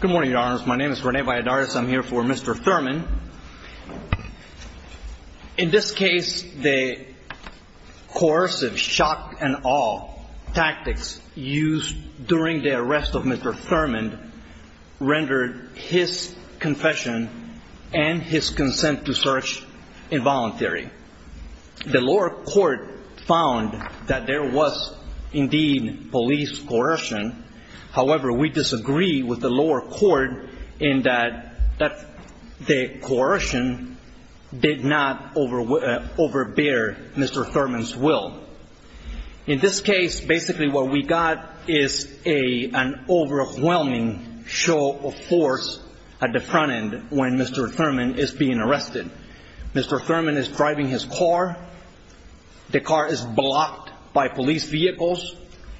Good morning, your honors. My name is Rene Valladares. I'm here for Mr. Thurman. In this case, the coercive shock and awe tactics used during the arrest of Mr. Thurman rendered his confession and his consent to search involuntary. The lower court found that there was indeed police coercion. However, we disagree with the lower court in that the coercion did not overbear Mr. Thurman's will. In this case, basically what we got is an overwhelming show of force at the front end when Mr. Thurman is being arrested. Mr. Thurman is driving his car. The car is blocked by police vehicles.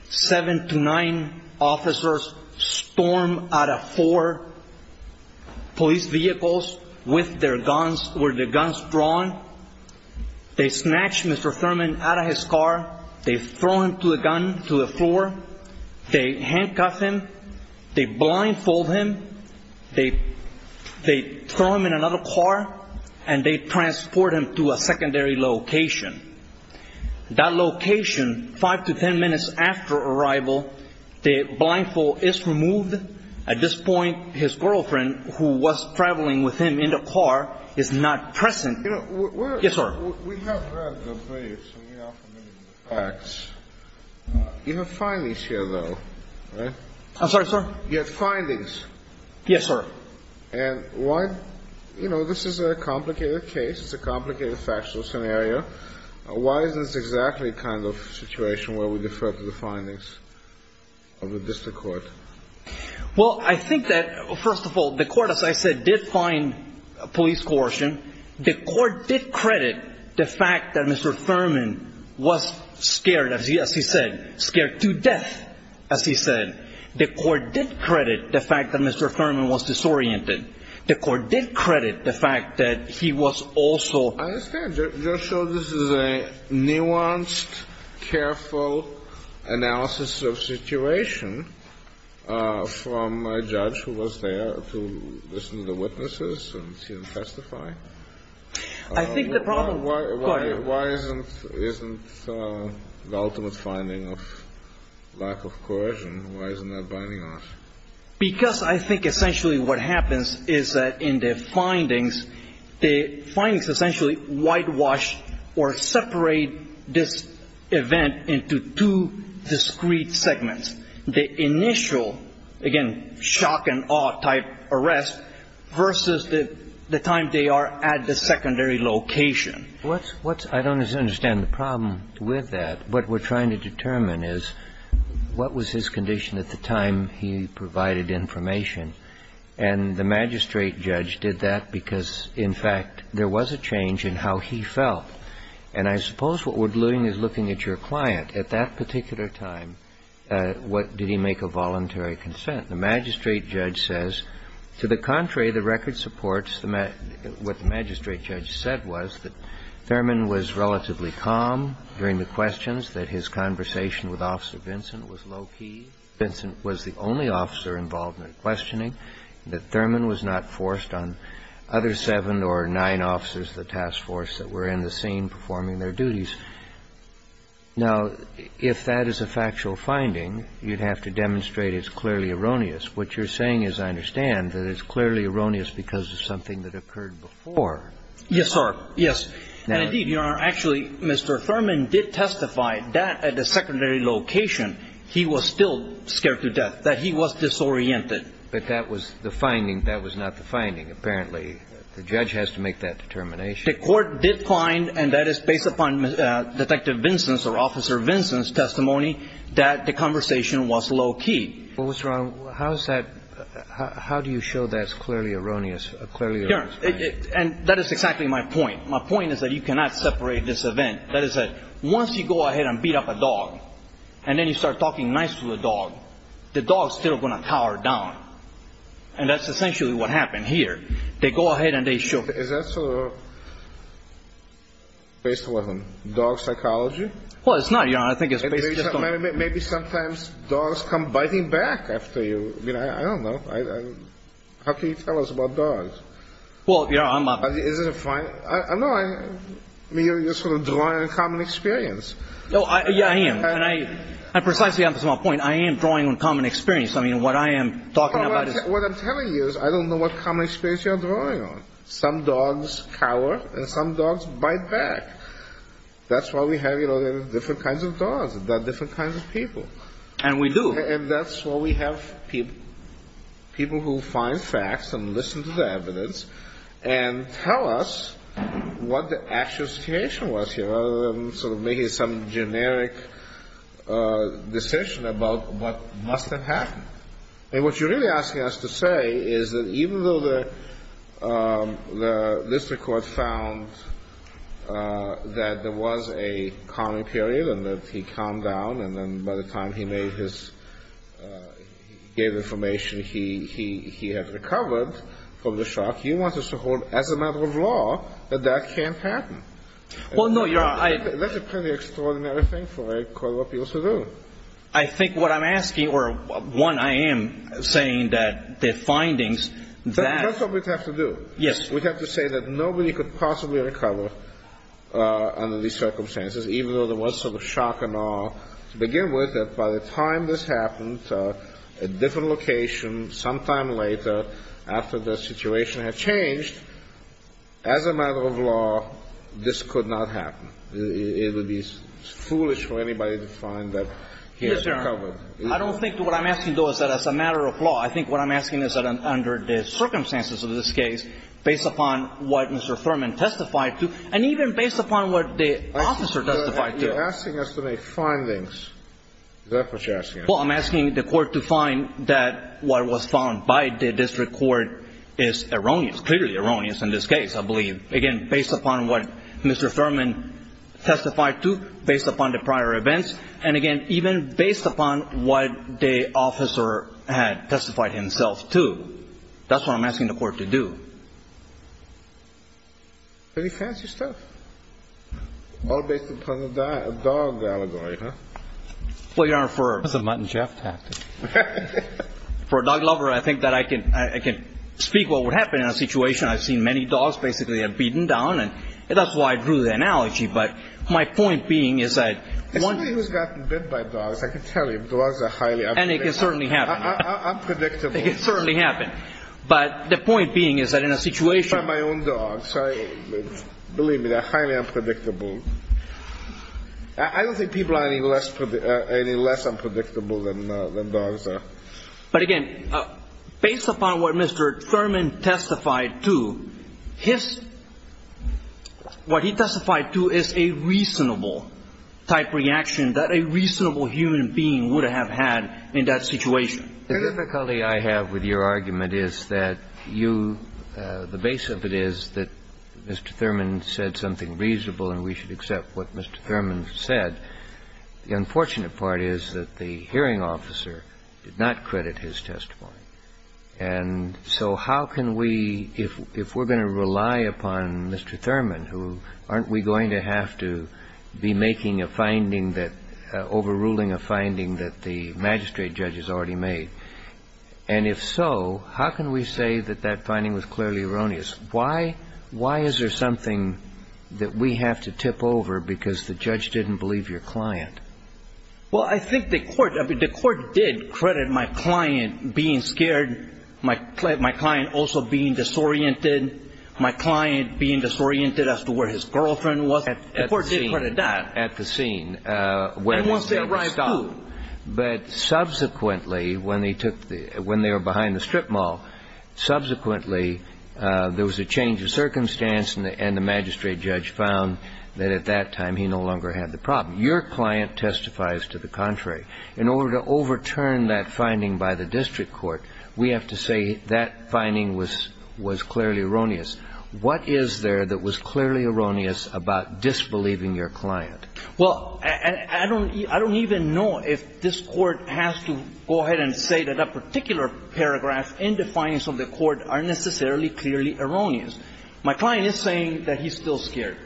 Seven to nine officers storm out of four police vehicles with their guns, with their guns drawn. They snatch Mr. Thurman out of his car. They throw him to a gun to the floor. They handcuff him. They blindfold him. They throw him in another car, and they transport him to a secondary location. That location, five to ten minutes after arrival, the blindfold is removed. At this point, his girlfriend, who was traveling with him in the car, is not present. Yes, sir. We have read the briefs, and we are familiar with the facts. You have findings here, though, right? I'm sorry, sir? You have findings? Yes, sir. And why, you know, this is a complicated case. It's a complicated factual scenario. Why is this exactly the kind of situation where we defer to the findings of the district court? Well, I think that, first of all, the court, as I said, did find police coercion. The court did credit the fact that Mr. Thurman was scared, as he said, scared to death, as he said. The court did credit the fact that Mr. Thurman was disoriented. The court did credit the fact that he was also I understand. You're sure this is a nuanced, careful analysis of situation from a judge who was there to listen to the witnesses and see them testify? I think the problem, court Why isn't the ultimate finding of lack of coercion? Why isn't that binding on us? Because I think essentially what happens is that in the findings, the findings essentially whitewash or separate this event into two discrete segments. The initial, again, shock and awe type arrest versus the time they are at the secondary location. I don't understand the problem with that. What we're trying to determine is, what was his condition at the time he provided information? And the magistrate judge did that because, in fact, there was a change in how he felt. And I suppose what we're doing is looking at your client. At that particular time, what did he make a voluntary consent? The magistrate judge says, to the contrary, the record supports the what the magistrate judge said was that Thurman was relatively calm during the questions, that his conversation with Officer Vincent was low-key. Vincent was the only officer involved in the questioning, that Thurman was not forced on other seven or nine officers of the task force that were in the scene performing their duties. Now, if that is a factual finding, you'd have to demonstrate it's clearly erroneous. What you're saying is, I understand, that it's clearly erroneous because of something that occurred before. Yes, sir. Yes. And indeed, Your Honor, actually, Mr. Thurman did testify that at the secondary location he was still scared to death, that he was disoriented. But that was the finding. That was not the finding. Apparently, the judge has to make that determination. The court did find, and that is based upon Detective Vincent's or Officer Vincent's testimony, that the conversation was low-key. What's wrong? How is that? How do you show that's clearly erroneous? And that is exactly my point. My point is that you cannot separate this event. That is that once you go ahead and beat up a dog, and then you start talking nice to the dog, the dog's still going to cower down. And that's essentially what happened here. They go ahead and they show... Is that based on dog psychology? Well, it's not, Your Honor. I think it's based on... I mean, I don't know. How can you tell us about dogs? Well, Your Honor, I'm not... Is it a fine... No, I mean, you're sort of drawing on common experience. No, yeah, I am. And precisely on this one point, I am drawing on common experience. I mean, what I am talking about is... What I'm telling you is I don't know what common experience you're drawing on. Some dogs cower, and some dogs bite back. That's why we have, you know, different kinds of dogs, different kinds of people. And we do. And that's why we have people who find facts and listen to the evidence and tell us what the actual situation was here, rather than sort of making some generic decision about what must have happened. And what you're really asking us to say is that even though the district court found that there was a common period and that he calmed down, and then by the time he gave information he had recovered from the shock, you want us to hold as a matter of law that that can't happen. Well, no, Your Honor, I... That's a pretty extraordinary thing for a court of appeals to do. I think what I'm asking, or one, I am saying that the findings that... That's what we'd have to do. Yes. We'd have to say that nobody could possibly recover under these circumstances, even though there was sort of a shock and awe. To begin with, that by the time this happened, at a different location, sometime later, after the situation had changed, as a matter of law, this could not happen. It would be foolish for anybody to find that he had recovered. Mr. Arnon, I don't think what I'm asking, though, is that as a matter of law. I think what I'm asking is that under the circumstances of this case, based upon what Mr. Thurman testified to, and even based upon what the officer testified to... You're asking us to make findings. Is that what you're asking? Well, I'm asking the court to find that what was found by the district court is erroneous, clearly erroneous in this case, I believe. Again, based upon what Mr. Thurman testified to, based upon the prior events, and again, even based upon what the officer had testified himself to. That's what I'm asking the court to do. Any fancy stuff? All based upon the dog allegory, huh? Well, Your Honor, for... That's a Mutt & Jeff tactic. For a dog lover, I think that I can speak what would happen in a situation. I've seen many dogs, basically, have beaten down, and that's why I drew the analogy. But my point being is that one... Somebody who's gotten bit by dogs, I can tell you, dogs are highly unpredictable. And it can certainly happen. Unpredictable. It can certainly happen. But the point being is that in a situation... I don't think people are any less unpredictable than dogs are. But again, based upon what Mr. Thurman testified to, his... What he testified to is a reasonable-type reaction that a reasonable human being would have had in that situation. The difficulty I have with your argument is that you... The base of it is that Mr. Thurman said something reasonable, and we should accept what Mr. Thurman said. The unfortunate part is that the hearing officer did not credit his testimony. And so how can we, if we're going to rely upon Mr. Thurman, who... Aren't we going to have to be making a finding that... And if so, how can we say that that finding was clearly erroneous? Why is there something that we have to tip over because the judge didn't believe your client? Well, I think the court... The court did credit my client being scared, my client also being disoriented, my client being disoriented as to where his girlfriend was. The court did credit that. At the scene. And once they arrive, who? But subsequently, when they took the... When they were behind the strip mall, subsequently, there was a change of circumstance and the magistrate judge found that at that time he no longer had the problem. Your client testifies to the contrary. In order to overturn that finding by the district court, we have to say that finding was clearly erroneous. What is there that was clearly erroneous about disbelieving your client? Well, I don't even know if this court has to go ahead and say that a particular paragraph in the findings of the court are necessarily clearly erroneous. My client is saying that he's still scared.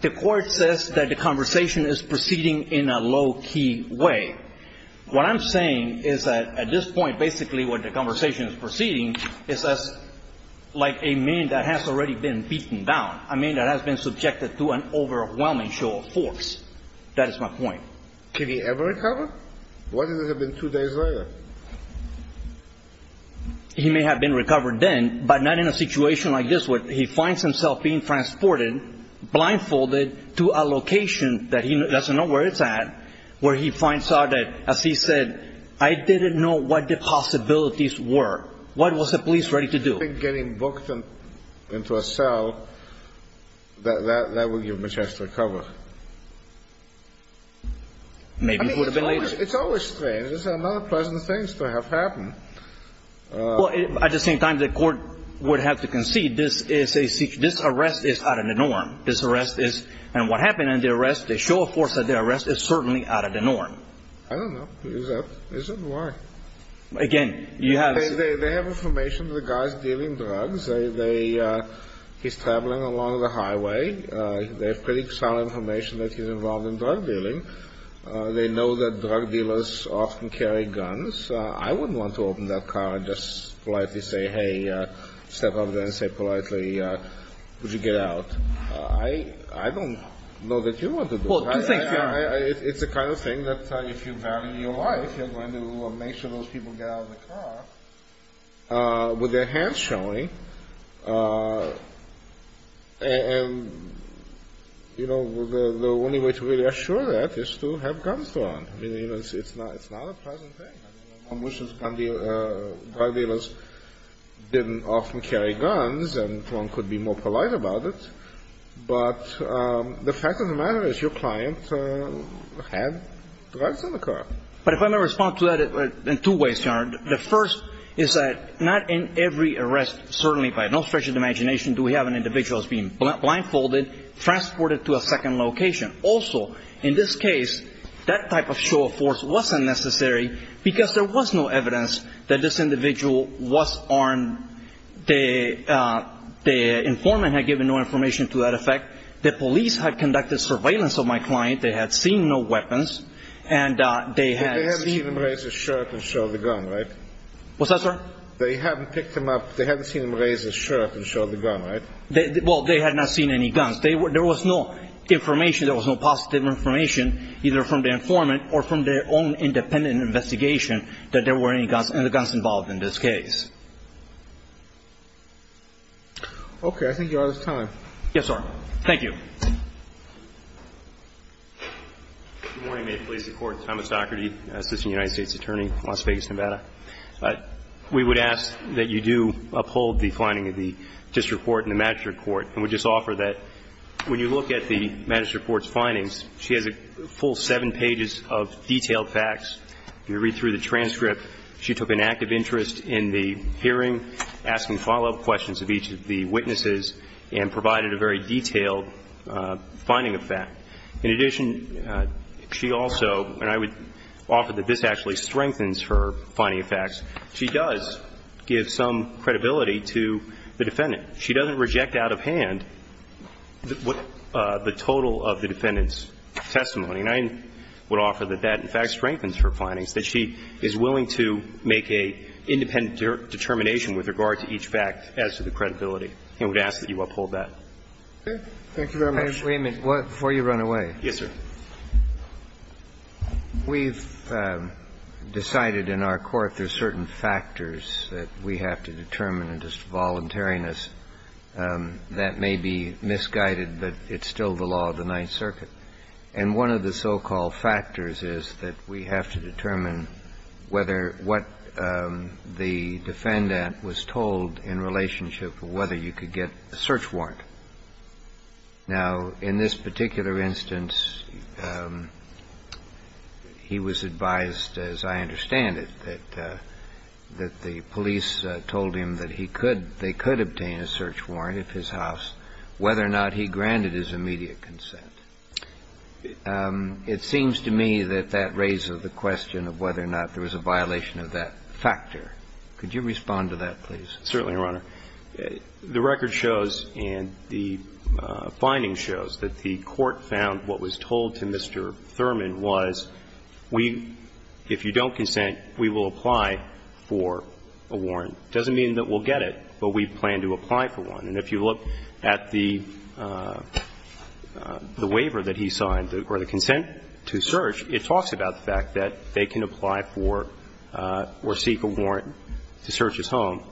The court says that the conversation is proceeding in a low key way. What I'm saying is that at this point, basically what the conversation is proceeding is like a man that has already been beaten down. I mean, that has been subjected to an overwhelming show of force. That is my point. Can he ever recover? What if it had been two days later? He may have been recovered then, but not in a situation like this where he finds himself being transported, blindfolded to a location that he doesn't know where it's at, where he finds out that, as he said, I didn't know what the possibilities were. What was the police ready to do? Getting booked into a cell, that would give him a chance to recover. Maybe it would have been later. It's always strange. There's a lot of pleasant things to have happen. Well, at the same time, the court would have to concede this is a situation this arrest is out of the norm. This arrest is, and what happened in the arrest, the show of force of the arrest is certainly out of the norm. I don't know. Is it? Why? Again, you have. They have information to the guys dealing drugs. He's traveling along the highway. They have pretty solid information that he's involved in drug dealing. They know that drug dealers often carry guns. I wouldn't want to open that car and just politely say, hey, step over there and say politely, would you get out? I don't know that you want to do that. It's the kind of thing that if you value your life, you're going to make sure those people get out of the car with their hands showing. And, you know, the only way to really assure that is to have guns thrown. I mean, you know, it's not it's not a pleasant thing, which is on the drug dealers didn't often carry guns and one could be more polite about it. But the fact of the matter is your client had drugs in the car. But if I may respond to that in two ways, the first is that not in every arrest, certainly by no stretch of the imagination, do we have an individual being blindfolded, transported to a second location. Also, in this case, that type of show of force wasn't necessary because there was no evidence that this individual was armed. The informant had given no information to that effect. The police had conducted surveillance of my client. They had seen no weapons and they had seen him raise his shirt and show the gun. Right. What's that, sir? They haven't picked him up. They haven't seen him raise his shirt and show the gun. Right. Well, they had not seen any guns. They were there was no information. There was no positive information either from the informant or from their own independent investigation that there were any guns and the guns involved in this case. OK, I think you're out of time. Yes, sir. Thank you. Good morning. May it please the Court. Thomas Docherty, Assistant United States Attorney, Las Vegas, Nevada. We would ask that you do uphold the finding of the District Court and the Magistrate Court and would just offer that when you look at the Magistrate Court's findings, she has a full seven pages of detailed facts. You read through the transcript. She took an active interest in the hearing, asking follow-up questions of each of the witnesses and provided a very detailed finding of fact. In addition, she also, and I would offer that this actually strengthens her finding of facts, she does give some credibility to the defendant. She doesn't reject out of hand the total of the defendant's testimony. And I would offer that that, in fact, strengthens her findings, that she is willing to make an independent determination with regard to each fact as to the credibility. And we would ask that you uphold that. Thank you very much. Wait a minute. Before you run away. Yes, sir. We've decided in our court there are certain factors that we have to determine and just voluntariness that may be misguided, but it's still the law of the Ninth Circuit. And one of the so-called factors is that we have to determine whether what the defendant was told in relationship to whether you could get a search warrant. Now, in this particular instance, he was advised, as I understand it, that the police told him that he could, they could obtain a search warrant at his house, whether or not he granted his immediate consent. It seems to me that that raises the question of whether or not there was a violation of that factor. Certainly, Your Honor. The record shows and the finding shows that the court found what was told to Mr. Thurman was we, if you don't consent, we will apply for a warrant. It doesn't mean that we'll get it, but we plan to apply for one. And if you look at the waiver that he signed or the consent to search, it talks about the fact that they can apply for or seek a warrant to search his home.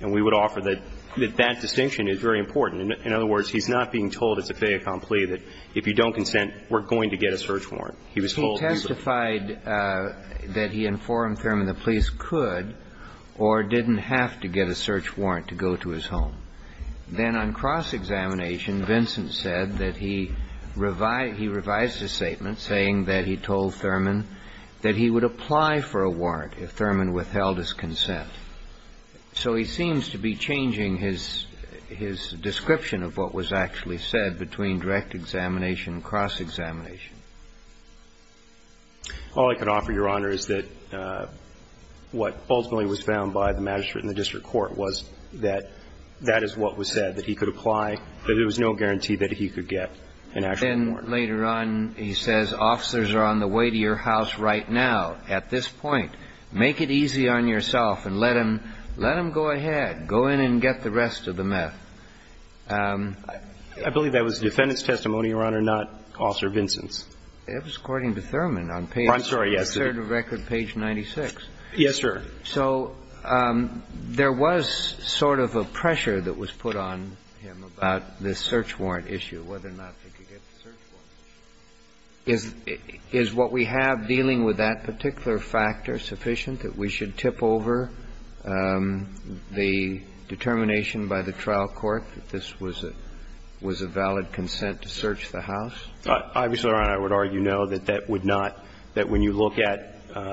And we would offer that that distinction is very important. In other words, he's not being told it's a fait accompli, that if you don't consent, we're going to get a search warrant. He was told he was going to get a search warrant. He testified that he informed Thurman the police could or didn't have to get a search warrant to go to his home. Then on cross-examination, Vincent said that he revised his statement saying that he told Thurman that he would apply for a warrant if Thurman withheld his consent. So he seems to be changing his description of what was actually said between direct examination and cross-examination. All I can offer, Your Honor, is that what ultimately was found by the magistrate in the district court was that that is what was said, that he could apply, but there was no guarantee that he could get an actual warrant. Then later on, he says, officers are on the way to your house right now at this point. Make it easy on yourself and let them go ahead. Go in and get the rest of the meth. I believe that was the defendant's testimony, Your Honor, not Officer Vincent's. It was according to Thurman on page 96. Yes, sir. So there was sort of a pressure that was put on him about this search warrant issue, whether or not they could get the search warrant. Is what we have dealing with that particular factor sufficient, that we should tip over the determination by the trial court that this was a valid consent to search the house? Obviously, Your Honor, I would argue no, that that would not, that when you look at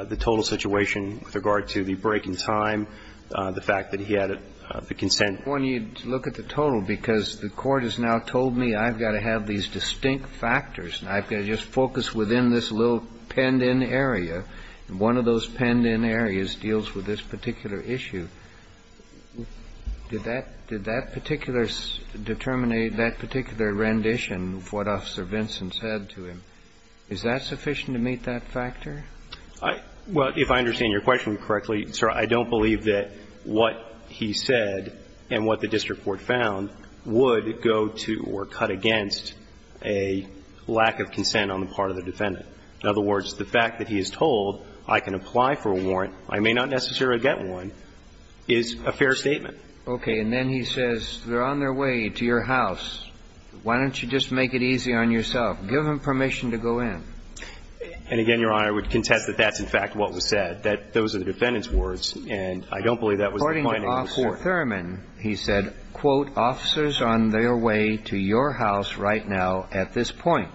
the total situation with regard to the break in time, the fact that he had the consent. When you look at the total, because the court has now told me I've got to have these distinct factors, and I've got to just focus within this little penned-in area, and one of those penned-in areas deals with this particular issue. Did that particular determination, that particular rendition of what Officer Vincent said to him, is that sufficient to meet that factor? Well, if I understand your question correctly, sir, I don't believe that what he said and what the district court found would go to or cut against a lack of consent on the part of the defendant. In other words, the fact that he is told I can apply for a warrant, I may not necessarily get one, is a fair statement. Okay. And then he says, they're on their way to your house. Why don't you just make it easy on yourself? Give them permission to go in. And again, Your Honor, I would contest that that's in fact what was said, that those are the defendant's words, and I don't believe that was the point of the court. And then later on, he says, Mr. Thurman, he said, quote, officers on their way to your house right now at this point.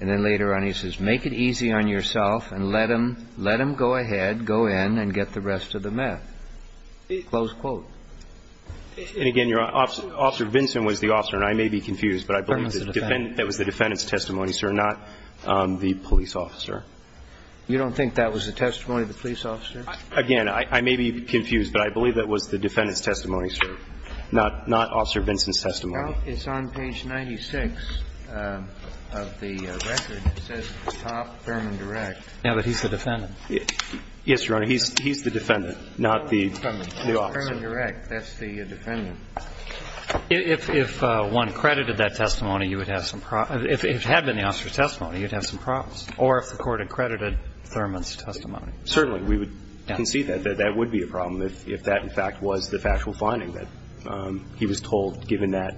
And then later on, he says, make it easy on yourself and let them go ahead, go in and get the rest of the meth, close quote. And again, Your Honor, Officer Vincent was the officer, and I may be confused, but I believe that was the defendant's testimony, sir, not the police officer. You don't think that was the testimony of the police officer? Again, I may be confused, but I believe that was the defendant's testimony, sir, not Officer Vincent's testimony. Now, it's on page 96 of the record, it says, Topp Thurman Direct. Yeah, but he's the defendant. Yes, Your Honor, he's the defendant, not the officer. Thurman Direct, that's the defendant. If one credited that testimony, you would have some problems. If it had been the officer's testimony, you would have some problems. Or if the court accredited Thurman's testimony. Certainly, we would concede that, that that would be a problem if that, in fact, was the factual finding, that he was told, given that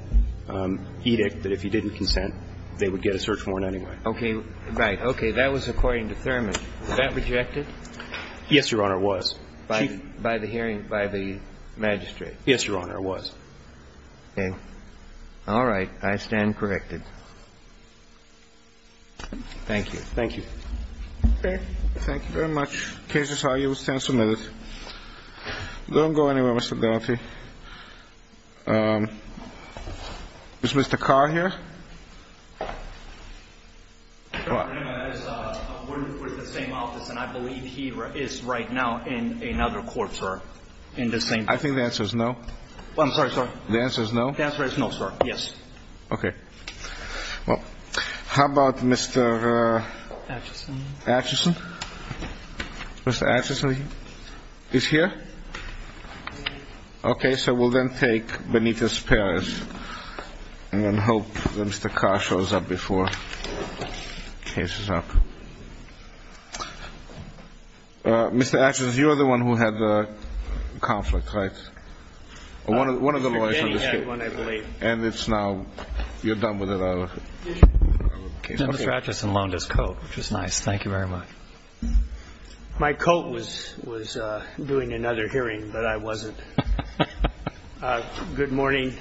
edict, that if he didn't consent, they would get a search warrant anyway. Okay, right, okay, that was according to Thurman. Was that rejected? Yes, Your Honor, it was. By the hearing, by the magistrate? Yes, Your Honor, it was. Okay, all right, I stand corrected. Thank you. Thank you. Okay, thank you very much. Cases are, you will stand submitted. Don't go anywhere, Mr. Garretti. Is Mr. Carr here? We're in the same office, and I believe he is right now in another court, sir. In the same. I think the answer is no. I'm sorry, sir. The answer is no? The answer is no, sir, yes. Okay, well, how about Mr. Atchison? Mr. Atchison is here? Okay, so we'll then take Benitez Perez, and then hope that Mr. Carr shows up before the case is up. Mr. Atchison, you are the one who had the conflict, right? One of the lawyers on this case, and it's now, you're done with it, are you? Mr. Atchison loaned his coat, which is nice. Thank you very much. My coat was doing another hearing, but I wasn't. Good morning,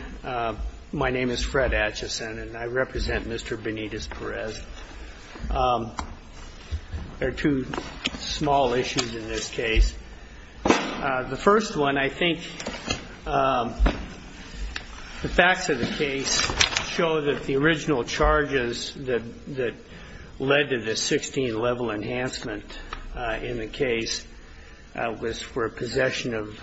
my name is Fred Atchison, and I represent Mr. Benitez Perez. There are two small issues in this case. The first one, I think, the facts of the case show that the original charges that led to the 16 level enhancement in the case was for possession of